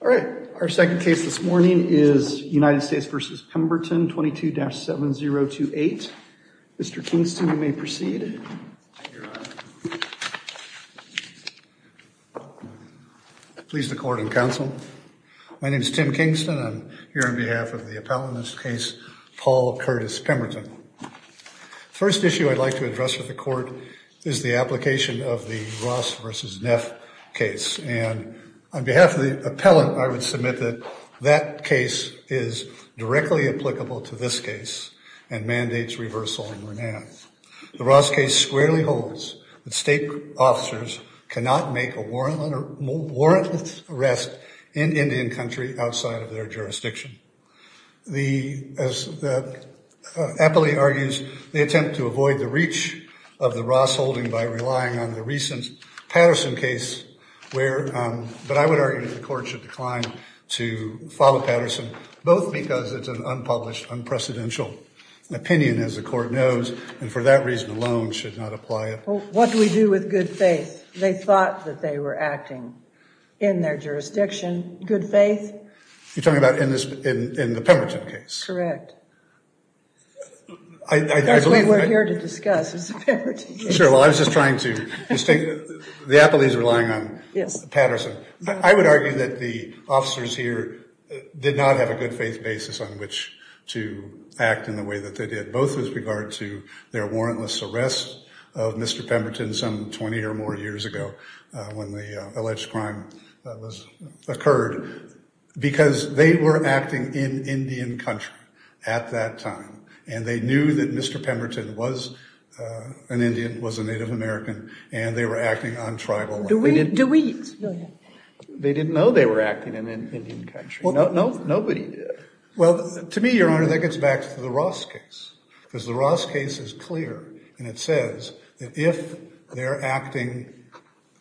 All right, our second case this morning is United States v. Pemberton 22-7028. Mr. Kingston, you may proceed. Please the court and counsel. My name is Tim Kingston. I'm here on behalf of the appellant in this case, Paul Curtis Pemberton. First issue I'd like to address with the court is the application of the Ross v. Neff case. And on behalf of the appellant, I would submit that that case is directly applicable to this case and mandates reversal and remand. The Ross case squarely holds that state officers cannot make a warrantless arrest in Indian country outside of their jurisdiction. The, as the appellate argues, they attempt to avoid the reach of the Ross holding by relying on the recent Patterson case where, but I would argue that the court should decline to follow Patterson, both because it's an unpublished, unprecedented opinion, as the court knows, and for that reason alone should not apply it. What do we do with good faith? They thought that they were acting in their jurisdiction. You're talking about in the Pemberton case? Correct. That's what we're here to discuss is the Pemberton case. Sure, well I was just trying to, the appellate is relying on Patterson. I would argue that the officers here did not have a good faith basis on which to act in the way that they did, both with regard to their warrantless arrest of Mr. Pemberton some 20 or more years ago when the alleged crime that was, occurred, because they were acting in Indian country at that time, and they knew that Mr. Pemberton was an Indian, was a Native American, and they were acting on tribal land. Do we, do we? They didn't know they were acting in Indian country. Nobody did. Well, to me, Your Honor, that gets back to the Ross case, because the Ross case is clear, and it says that if they're acting,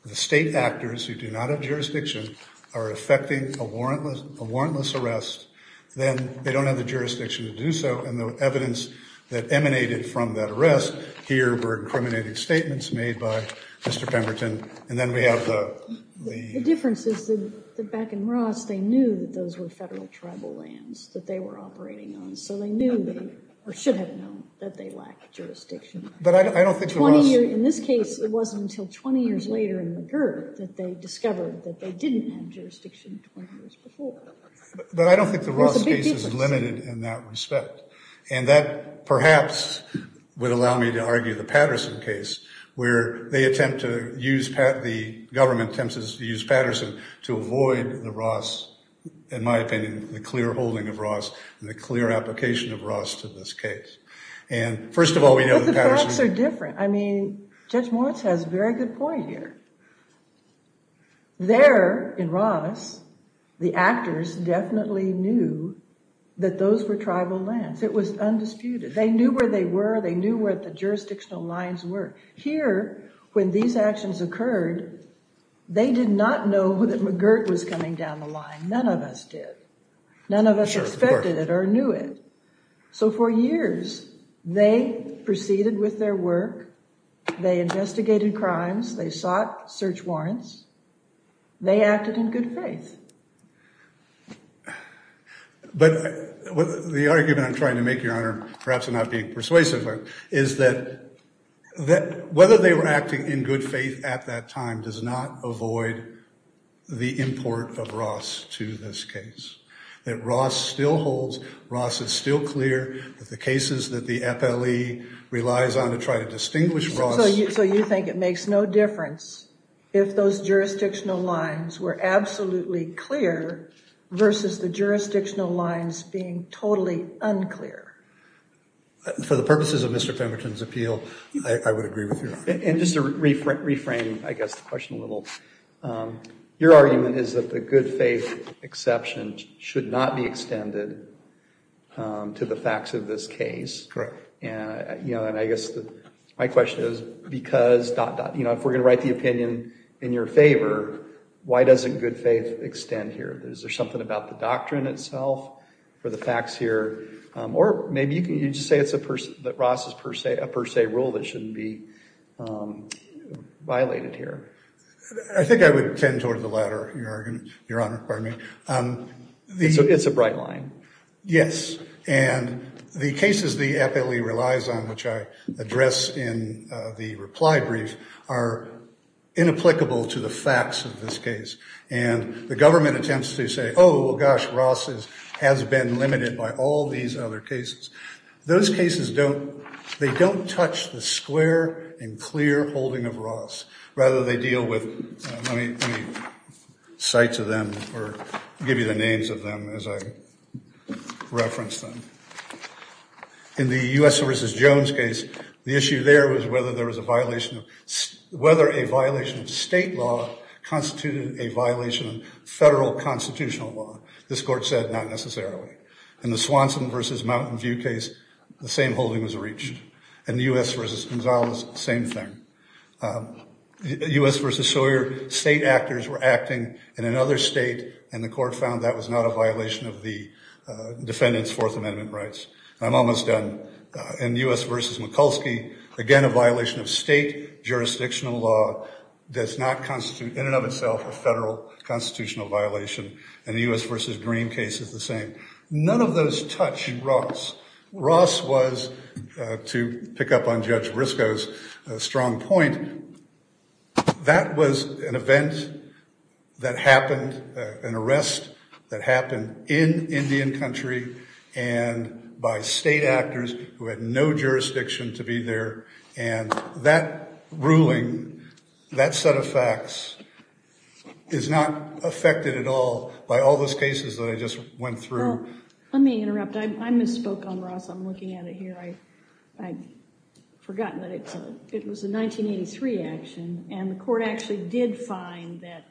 the state actors who do not have jurisdiction are effecting a warrantless arrest, then they don't have the jurisdiction to do so, and the evidence that emanated from that arrest here were incriminating statements made by Mr. Pemberton, and then we have the... The difference is that back in Ross, they knew that those were federal tribal lands that they were operating on, so they knew, or should have known, that they lacked jurisdiction. But I don't think the Ross... 20 years, in this case, it wasn't until 20 years later in McGirt that they discovered that they didn't have jurisdiction 20 years before. But I don't think the Ross case is limited in that respect, and that perhaps would allow me to argue the Patterson case, where they attempt to use, the government attempts to use Patterson to avoid the Ross, in my opinion, the clear holding of Ross and the clear application of Ross to this case. And first of all, we know that Patterson... But the facts are different. I mean, Judge Moritz has a very good point here. There, in Ross, the actors definitely knew that those were tribal lands. It was undisputed. They knew where they were. They knew where the jurisdictional lines were. Here, when these actions occurred, they did not know that McGirt was coming down the line. None of us did. None of us expected it or knew it. So for years, they proceeded with their work. They investigated crimes. They sought search warrants. They acted in good faith. But the argument I'm trying to make, Your Honor, perhaps I'm not being persuasive, is that whether they were acting in good faith at that time does not avoid the import of Ross to this case. That Ross still holds... Ross is still clear that the cases that the FLE relies on to try to distinguish Ross... versus the jurisdictional lines being totally unclear. For the purposes of Mr. Pemberton's appeal, I would agree with you. And just to reframe, I guess, the question a little, your argument is that the good faith exception should not be extended to the facts of this case. Correct. And I guess my question is because... if we're going to write the opinion in your favor, why doesn't good faith extend here? Is there something about the doctrine itself or the facts here? Or maybe you can just say that Ross is a per se rule that shouldn't be violated here. I think I would tend toward the latter, Your Honor. It's a bright line. Yes. And the cases the FLE relies on, which I address in the reply brief, are inapplicable to the facts of this case. And the government attempts to say, oh, gosh, Ross has been limited by all these other cases. Those cases don't... they don't touch the square and clear holding of Ross. Rather, they deal with... I'll give you the names of them as I reference them. In the U.S. v. Jones case, the issue there was whether there was a violation of... whether a violation of state law constituted a violation of federal constitutional law. This court said not necessarily. In the Swanson v. Mountain View case, the same holding was reached. In the U.S. v. Gonzalez, same thing. U.S. v. Sawyer, state actors were acting in another state, and the court found that was not a violation of the defendant's Fourth Amendment rights. I'm almost done. In U.S. v. Mikulski, again, a violation of state jurisdictional law does not constitute, in and of itself, a federal constitutional violation. In the U.S. v. Green case, it's the same. None of those touch Ross. Ross was, to pick up on Judge Briscoe's strong point, that was an event that happened, an arrest that happened in Indian country and by state actors who had no jurisdiction to be there, and that ruling, that set of facts is not affected at all by all those cases that I just went through. Let me interrupt. I misspoke on Ross. I'm looking at it here. I'd forgotten that it was a 1983 action, and the court actually did find that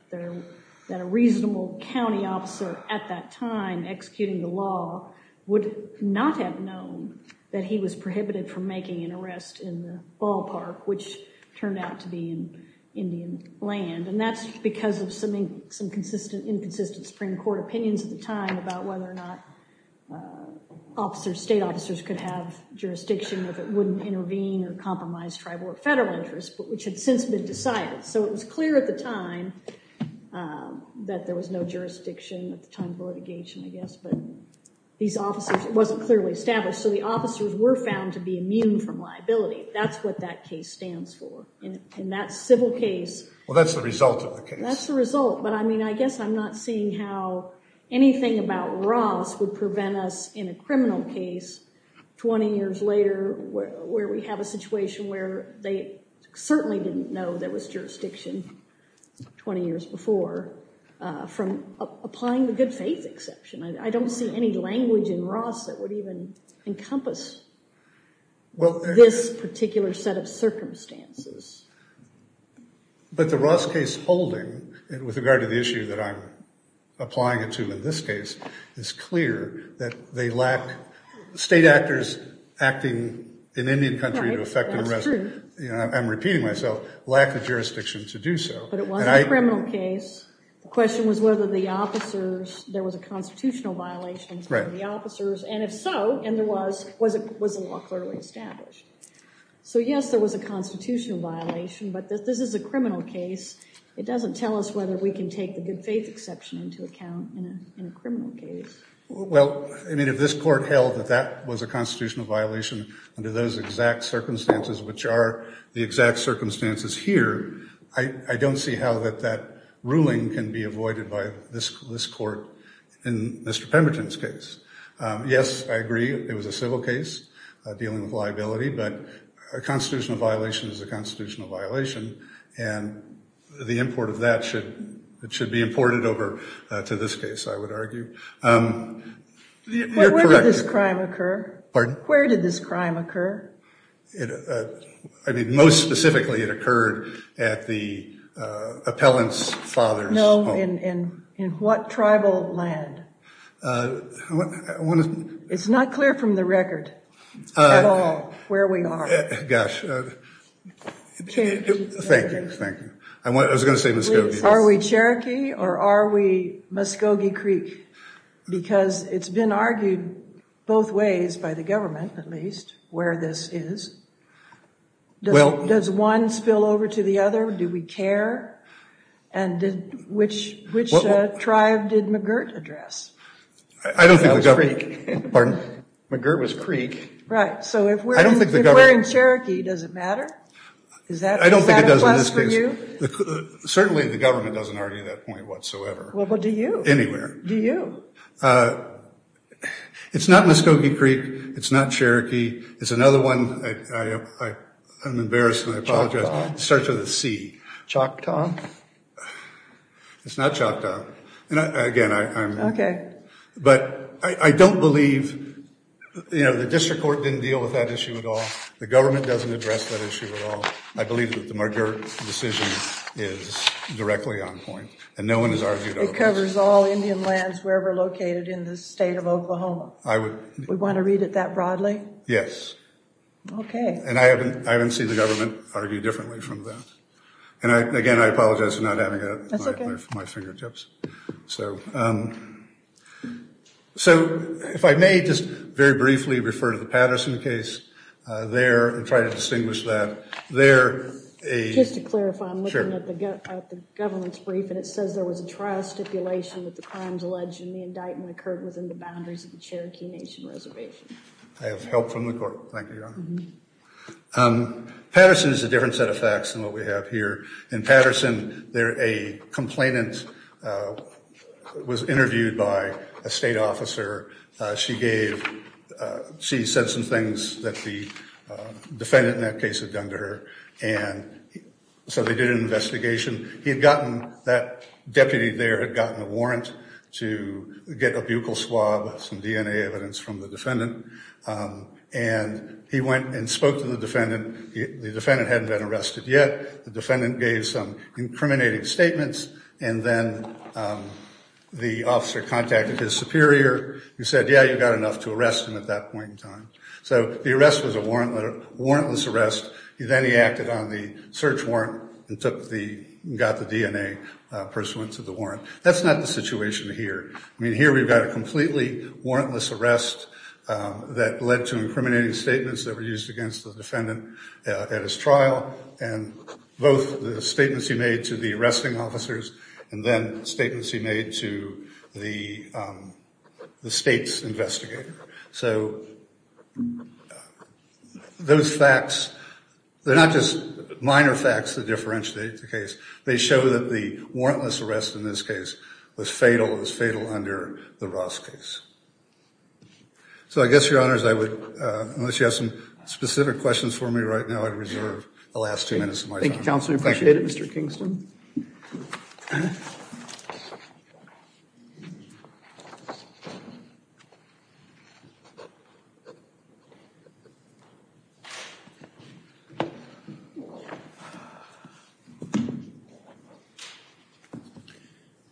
a reasonable county officer at that time executing the law would not have known that he was prohibited from making an arrest in the ballpark, which turned out to be in Indian land, and that's because of some inconsistent Supreme Court opinions at the time about whether or not state officers could have jurisdiction if it wouldn't intervene or compromise tribal or federal interests, which had since been decided. So it was clear at the time that there was no jurisdiction at the time of litigation, I guess, but these officers—it wasn't clearly established, so the officers were found to be immune from liability. That's what that case stands for. In that civil case— Well, that's the result of the case. That's the result, but, I mean, I guess I'm not seeing how anything about Ross would prevent us in a criminal case 20 years later where we have a situation where they certainly didn't know there was jurisdiction 20 years before from applying the good faith exception. I don't see any language in Ross that would even encompass this particular set of circumstances. But the Ross case holding, with regard to the issue that I'm applying it to in this case, is clear that they lack—state actors acting in Indian country to effect— Right, that's true. I'm repeating myself—lack the jurisdiction to do so. But it was a criminal case. The question was whether the officers—there was a constitutional violation for the officers, and if so, and there was, was the law clearly established? So, yes, there was a constitutional violation, but this is a criminal case. It doesn't tell us whether we can take the good faith exception into account in a criminal case. Well, I mean, if this court held that that was a constitutional violation under those exact circumstances, which are the exact circumstances here, I don't see how that ruling can be avoided by this court in Mr. Pemberton's case. Yes, I agree it was a civil case dealing with liability, but a constitutional violation is a constitutional violation, and the import of that should be imported over to this case, I would argue. Where did this crime occur? Pardon? Where did this crime occur? I mean, most specifically, it occurred at the appellant's father's home. No, in what tribal land? I want to— It's not clear from the record at all where we are. Gosh. Cherokee. Thank you, thank you. I was going to say Muskogee. Are we Cherokee or are we Muskogee Creek? Because it's been argued both ways by the government, at least, where this is. Does one spill over to the other? Do we care? And which tribe did McGirt address? I don't think the government— That was Creek. Pardon? McGirt was Creek. Right, so if we're in Cherokee, does it matter? I don't think it does in this case. Is that a plus for you? Certainly the government doesn't argue that point whatsoever. Well, do you? Anywhere. Do you? It's not Cherokee. It's another one. I'm embarrassed and I apologize. It starts with a C. Choctaw? It's not Choctaw. Again, I'm— Okay. But I don't believe—the district court didn't deal with that issue at all. The government doesn't address that issue at all. I believe that the McGirt decision is directly on point and no one has argued otherwise. It covers all Indian lands wherever located in the state of Oklahoma. I would— We want to read it that broadly? Yes. Okay. And I haven't seen the government argue differently from that. And, again, I apologize for not having it at my fingertips. That's okay. So if I may just very briefly refer to the Patterson case there and try to distinguish that. There a— Just to clarify, I'm looking at the government's brief and it says there was a trial stipulation that the crimes alleged in the indictment occurred within the boundaries of the Cherokee Nation Reservation. I have help from the court. Thank you, Your Honor. Patterson is a different set of facts than what we have here. In Patterson, there a complainant was interviewed by a state officer. She gave—she said some things that the defendant in that case had done to her. And so they did an investigation. He had gotten—that deputy there had gotten a warrant to get a buccal swab, some DNA evidence from the defendant. And he went and spoke to the defendant. The defendant hadn't been arrested yet. The defendant gave some incriminating statements. And then the officer contacted his superior who said, yeah, you've got enough to arrest him at that point in time. So the arrest was a warrantless arrest. Then he acted on the search warrant and took the—got the DNA pursuant to the warrant. That's not the situation here. I mean, here we've got a completely warrantless arrest that led to incriminating statements that were used against the defendant at his trial and both the statements he made to the arresting officers and then statements he made to the state's investigator. So those facts—they're not just minor facts that differentiate the case. They show that the warrantless arrest in this case was fatal. It was fatal under the Ross case. So I guess, Your Honors, I would—unless you have some specific questions for me right now, I'd reserve the last two minutes of my time. Thank you, Counselor. We appreciate it, Mr. Kingston.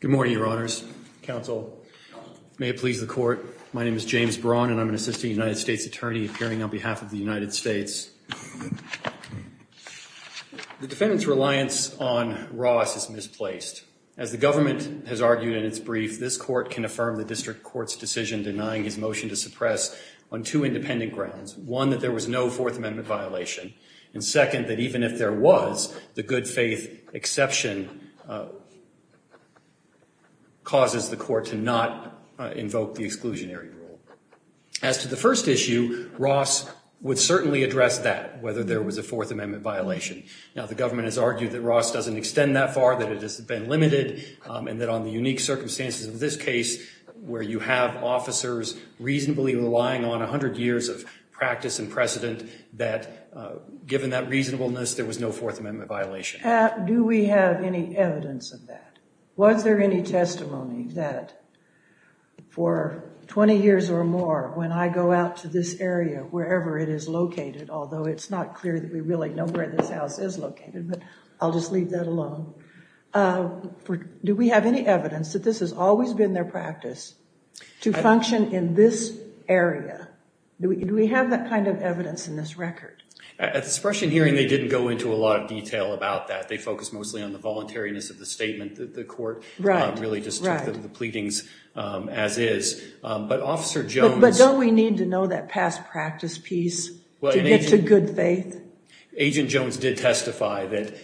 Good morning, Your Honors. Counsel, may it please the Court. My name is James Braun, and I'm an assistant United States attorney appearing on behalf of the United States. The defendant's reliance on Ross is misplaced. As the government has argued in its brief, this Court can affirm the district court's decision denying his motion to suppress on two independent grounds, one, that there was no Fourth Amendment violation, and second, that even if there was, the good faith exception causes the Court to not invoke the exclusionary rule. As to the first issue, Ross would certainly address that, whether there was a Fourth Amendment violation. Now, the government has argued that Ross doesn't extend that far, that it has been limited, and that on the unique circumstances of this case, where you have officers reasonably relying on 100 years of practice and precedent, that given that reasonableness, there was no Fourth Amendment violation. Do we have any evidence of that? Was there any testimony that for 20 years or more, when I go out to this area, wherever it is located, although it's not clear that we really know where this house is located, but I'll just leave that alone, do we have any evidence that this has always been their practice to function in this area? Do we have that kind of evidence in this record? At the suppression hearing, they didn't go into a lot of detail about that. They focused mostly on the voluntariness of the statement that the Court really just took the pleadings as is. But don't we need to know that past practice piece to get to good faith? Agent Jones did testify that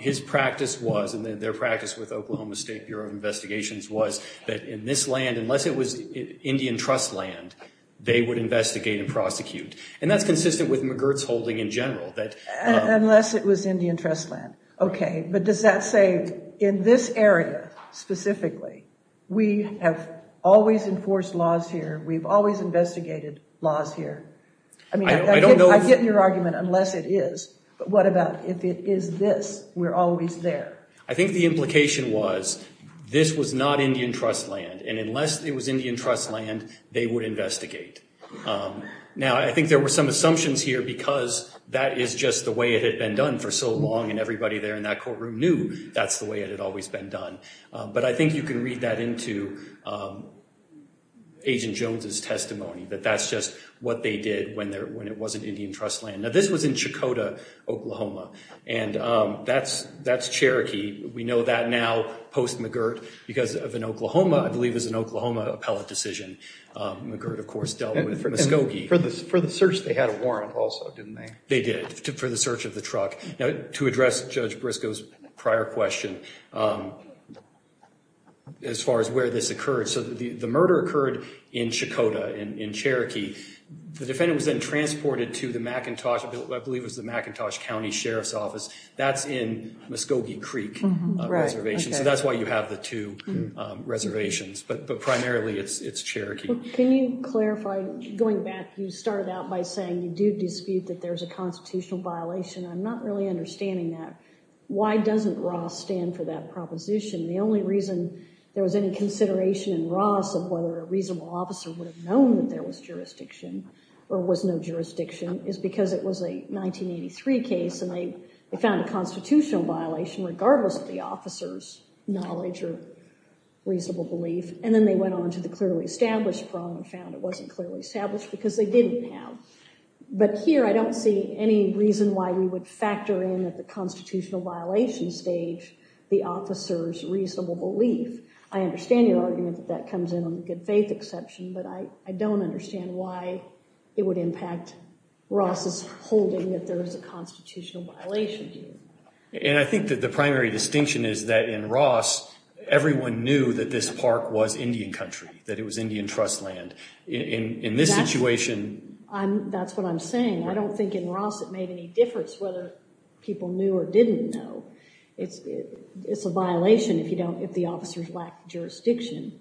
his practice was, and their practice with Oklahoma State Bureau of Investigations was, that in this land, unless it was Indian Trust land, they would investigate and prosecute. And that's consistent with McGirt's holding in general. Unless it was Indian Trust land. Okay, but does that say in this area specifically, we have always enforced laws here, we've always investigated laws here? I mean, I get your argument, unless it is. But what about if it is this, we're always there? I think the implication was, this was not Indian Trust land, and unless it was Indian Trust land, they would investigate. Now, I think there were some assumptions here because that is just the way it had been done for so long, and everybody there in that courtroom knew that's the way it had always been done. But I think you can read that into Agent Jones' testimony, that that's just what they did when it wasn't Indian Trust land. Now, this was in Chakota, Oklahoma, and that's Cherokee. We know that now, post-McGirt, because of an Oklahoma, I believe it was an Oklahoma appellate decision. McGirt, of course, dealt with Muskogee. And for the search, they had a warrant also, didn't they? They did, for the search of the truck. Now, to address Judge Briscoe's prior question, as far as where this occurred, so the murder occurred in Chakota, in Cherokee. The defendant was then transported to the McIntosh, I believe it was the McIntosh County Sheriff's Office. That's in Muskogee Creek Reservation, so that's why you have the two reservations. But primarily, it's Cherokee. Can you clarify, going back, you started out by saying you do dispute that there's a constitutional violation. I'm not really understanding that. Why doesn't Ross stand for that proposition? The only reason there was any consideration in Ross of whether a reasonable officer would have known that there was jurisdiction or was no jurisdiction is because it was a 1983 case, and they found a constitutional violation regardless of the officer's knowledge or reasonable belief. And then they went on to the clearly established problem and found it wasn't clearly established because they didn't have. But here, I don't see any reason why we would factor in at the constitutional violation stage the officer's reasonable belief. I understand your argument that that comes in on the good faith exception, but I don't understand why it would impact Ross' holding that there is a constitutional violation here. And I think that the primary distinction is that in Ross, everyone knew that this park was Indian country, that it was Indian trust land. In this situation— That's what I'm saying. I don't think in Ross it made any difference whether people knew or didn't know. It's a violation if the officers lack jurisdiction.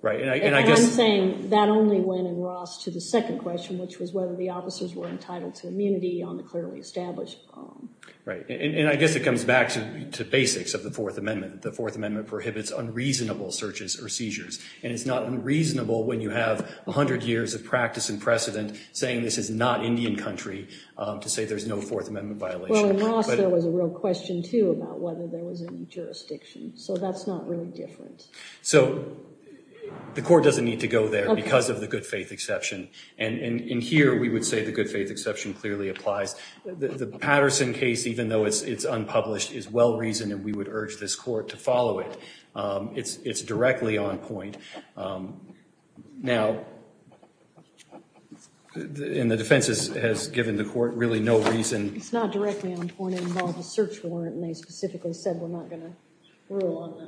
Right, and I guess— And I'm saying that only went in Ross to the second question, which was whether the officers were entitled to immunity on the clearly established problem. Right, and I guess it comes back to basics of the Fourth Amendment. The Fourth Amendment prohibits unreasonable searches or seizures, and it's not unreasonable when you have 100 years of practice and precedent saying this is not Indian country to say there's no Fourth Amendment violation. Well, in Ross, there was a real question, too, about whether there was any jurisdiction. So that's not really different. So the court doesn't need to go there because of the good faith exception. And here, we would say the good faith exception clearly applies. The Patterson case, even though it's unpublished, is well-reasoned, and we would urge this court to follow it. It's directly on point. Now, and the defense has given the court really no reason— It's not directly on point. It involved a search warrant, and they specifically said we're not going to rule on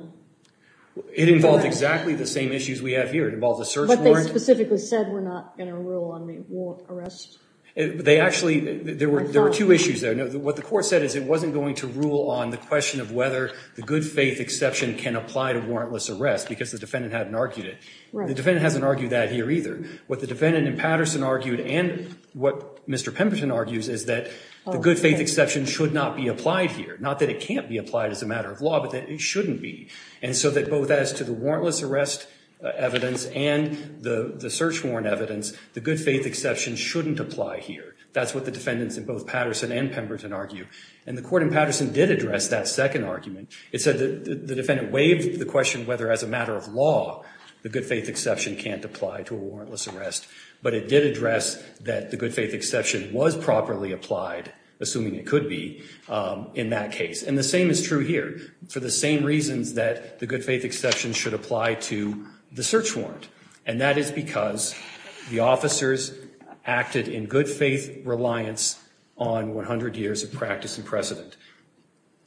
that. It involved exactly the same issues we have here. It involved a search warrant. But they specifically said we're not going to rule on the arrest. They actually—there were two issues there. What the court said is it wasn't going to rule on the question of whether the good faith exception can apply to warrantless arrest because the defendant hadn't argued it. The defendant hasn't argued that here either. What the defendant in Patterson argued and what Mr. Pemberton argues is that the good faith exception should not be applied here. Not that it can't be applied as a matter of law, but that it shouldn't be. And so that both as to the warrantless arrest evidence and the search warrant evidence, the good faith exception shouldn't apply here. That's what the defendants in both Patterson and Pemberton argue. And the court in Patterson did address that second argument. It said that the defendant waived the question whether as a matter of law the good faith exception can't apply to a warrantless arrest. But it did address that the good faith exception was properly applied, assuming it could be, in that case. And the same is true here for the same reasons that the good faith exception should apply to the search warrant. And that is because the officers acted in good faith reliance on 100 years of practice and precedent.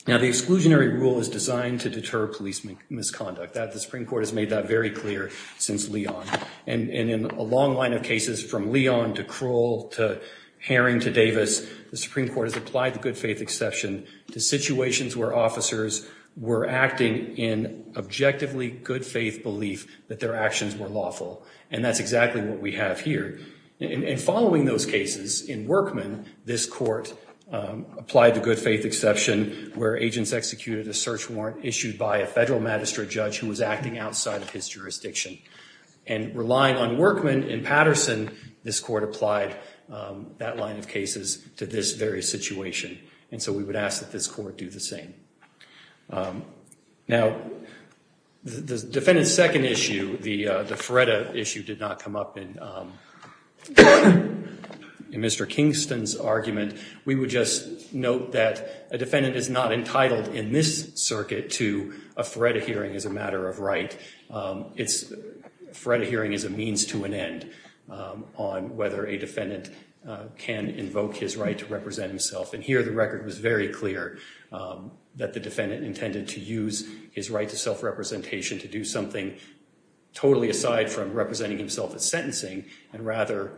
Now the exclusionary rule is designed to deter police misconduct. The Supreme Court has made that very clear since Leon. And in a long line of cases from Leon to Kroll to Herring to Davis, the Supreme Court has applied the good faith exception to situations where officers were acting in objectively good faith belief that their actions were lawful. And that's exactly what we have here. And following those cases in Workman, this court applied the good faith exception where agents executed a search warrant issued by a federal magistrate judge who was acting outside of his jurisdiction. And relying on Workman in Patterson, this court applied that line of cases to this very situation. And so we would ask that this court do the same. Now the defendant's second issue, the FREDA issue, did not come up in Mr. Kingston's argument. We would just note that a defendant is not entitled in this circuit to a FREDA hearing as a matter of right. A FREDA hearing is a means to an end on whether a defendant can invoke his right to represent himself. And here the record was very clear that the defendant intended to use his right to self-representation to do something totally aside from representing himself as sentencing and rather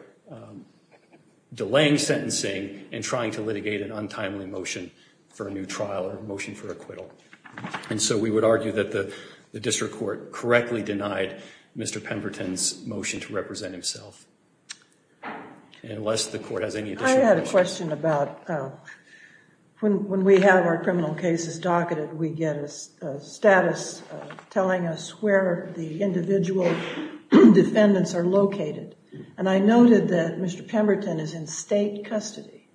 delaying sentencing and trying to litigate an untimely motion for a new trial or motion for acquittal. And so we would argue that the district court correctly denied Mr. Pemberton's motion to represent himself. Unless the court has any additional questions. I had a question about when we have our criminal cases docketed, we get a status telling us where the individual defendants are located. And I noted that Mr. Pemberton is in state custody.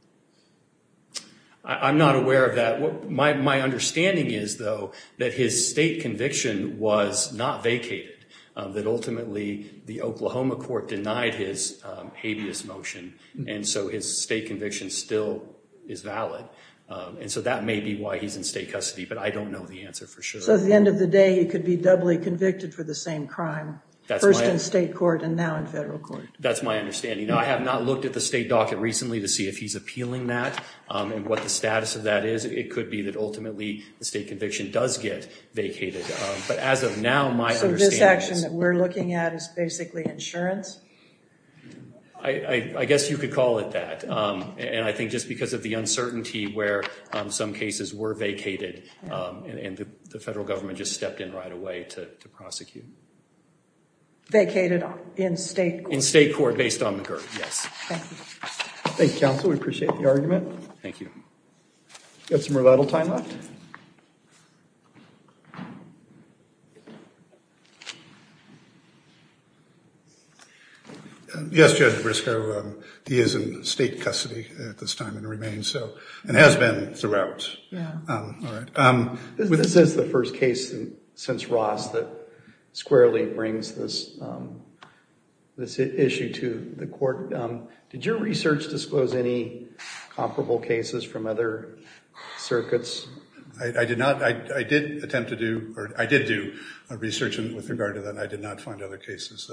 I'm not aware of that. My understanding is, though, that his state conviction was not vacated, that ultimately the Oklahoma court denied his habeas motion. And so his state conviction still is valid. And so that may be why he's in state custody. But I don't know the answer for sure. So at the end of the day, he could be doubly convicted for the same crime. First in state court and now in federal court. That's my understanding. I have not looked at the state docket recently to see if he's appealing that and what the status of that is. It could be that ultimately the state conviction does get vacated. But as of now, my understanding is. So this action that we're looking at is basically insurance? I guess you could call it that. And I think just because of the uncertainty where some cases were vacated and the federal government just stepped in right away to prosecute. Vacated in state court. In state court based on the GERD, yes. Thank you. Thank you, counsel. We appreciate the argument. Thank you. Got some rebuttal time left? Yes, Judge Briscoe. He is in state custody at this time and remains so. And has been throughout. Yeah. All right. This is the first case since Ross that squarely brings this issue to the court. Did your research disclose any comparable cases from other circuits? I did not. I did attempt to do. Or I did do research with regard to that. I did not find other cases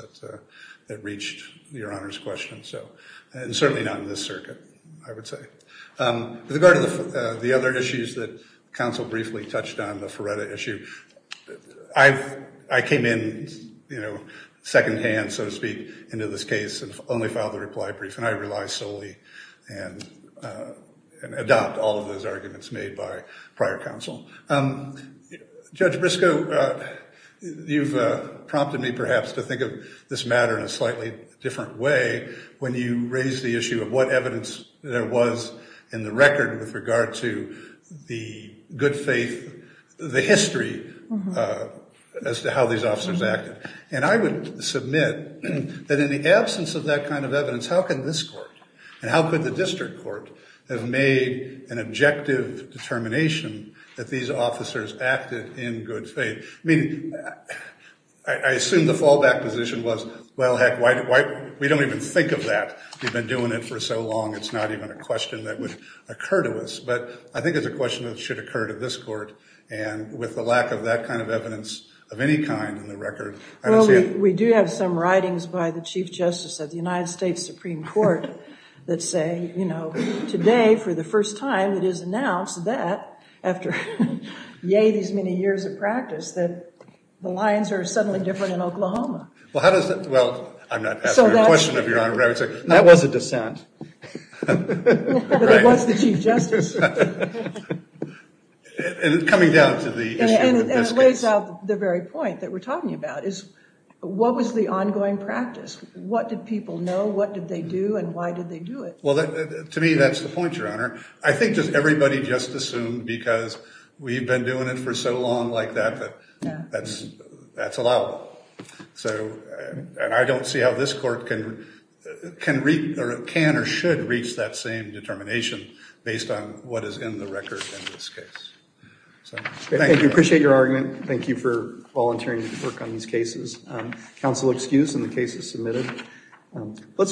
that reached Your Honor's question. And certainly not in this circuit, I would say. With regard to the other issues that counsel briefly touched on, the Feretta issue, I came in secondhand, so to speak, into this case and only filed the reply brief. And I rely solely and adopt all of those arguments made by prior counsel. Judge Briscoe, you've prompted me perhaps to think of this matter in a slightly different way when you raised the issue of what evidence there was in the record with regard to the good faith, the history as to how these officers acted. And I would submit that in the absence of that kind of evidence, how can this court and how could the district court have made an objective determination that these officers acted in good faith? I mean, I assume the fallback position was, well, heck, we don't even think of that. We've been doing it for so long it's not even a question that would occur to us. But I think it's a question that should occur to this court. And with the lack of that kind of evidence of any kind in the record, I don't see it. Well, we do have some writings by the Chief Justice of the United States Supreme Court that say, you know, today for the first time it is announced that after, yay, these many years of practice, that the lines are suddenly different in Oklahoma. Well, how does that? Well, I'm not asking a question of Your Honor. That was a dissent. But it was the Chief Justice. And it's coming down to the issue of this case. And it lays out the very point that we're talking about, is what was the ongoing practice? What did people know? What did they do and why did they do it? Well, to me that's the point, Your Honor. I think just everybody just assumed because we've been doing it for so long like that, that that's allowable. And I don't see how this court can or should reach that same determination based on what is in the record in this case. Thank you. I appreciate your argument. Thank you for volunteering to work on these cases. Counsel excused and the case is submitted.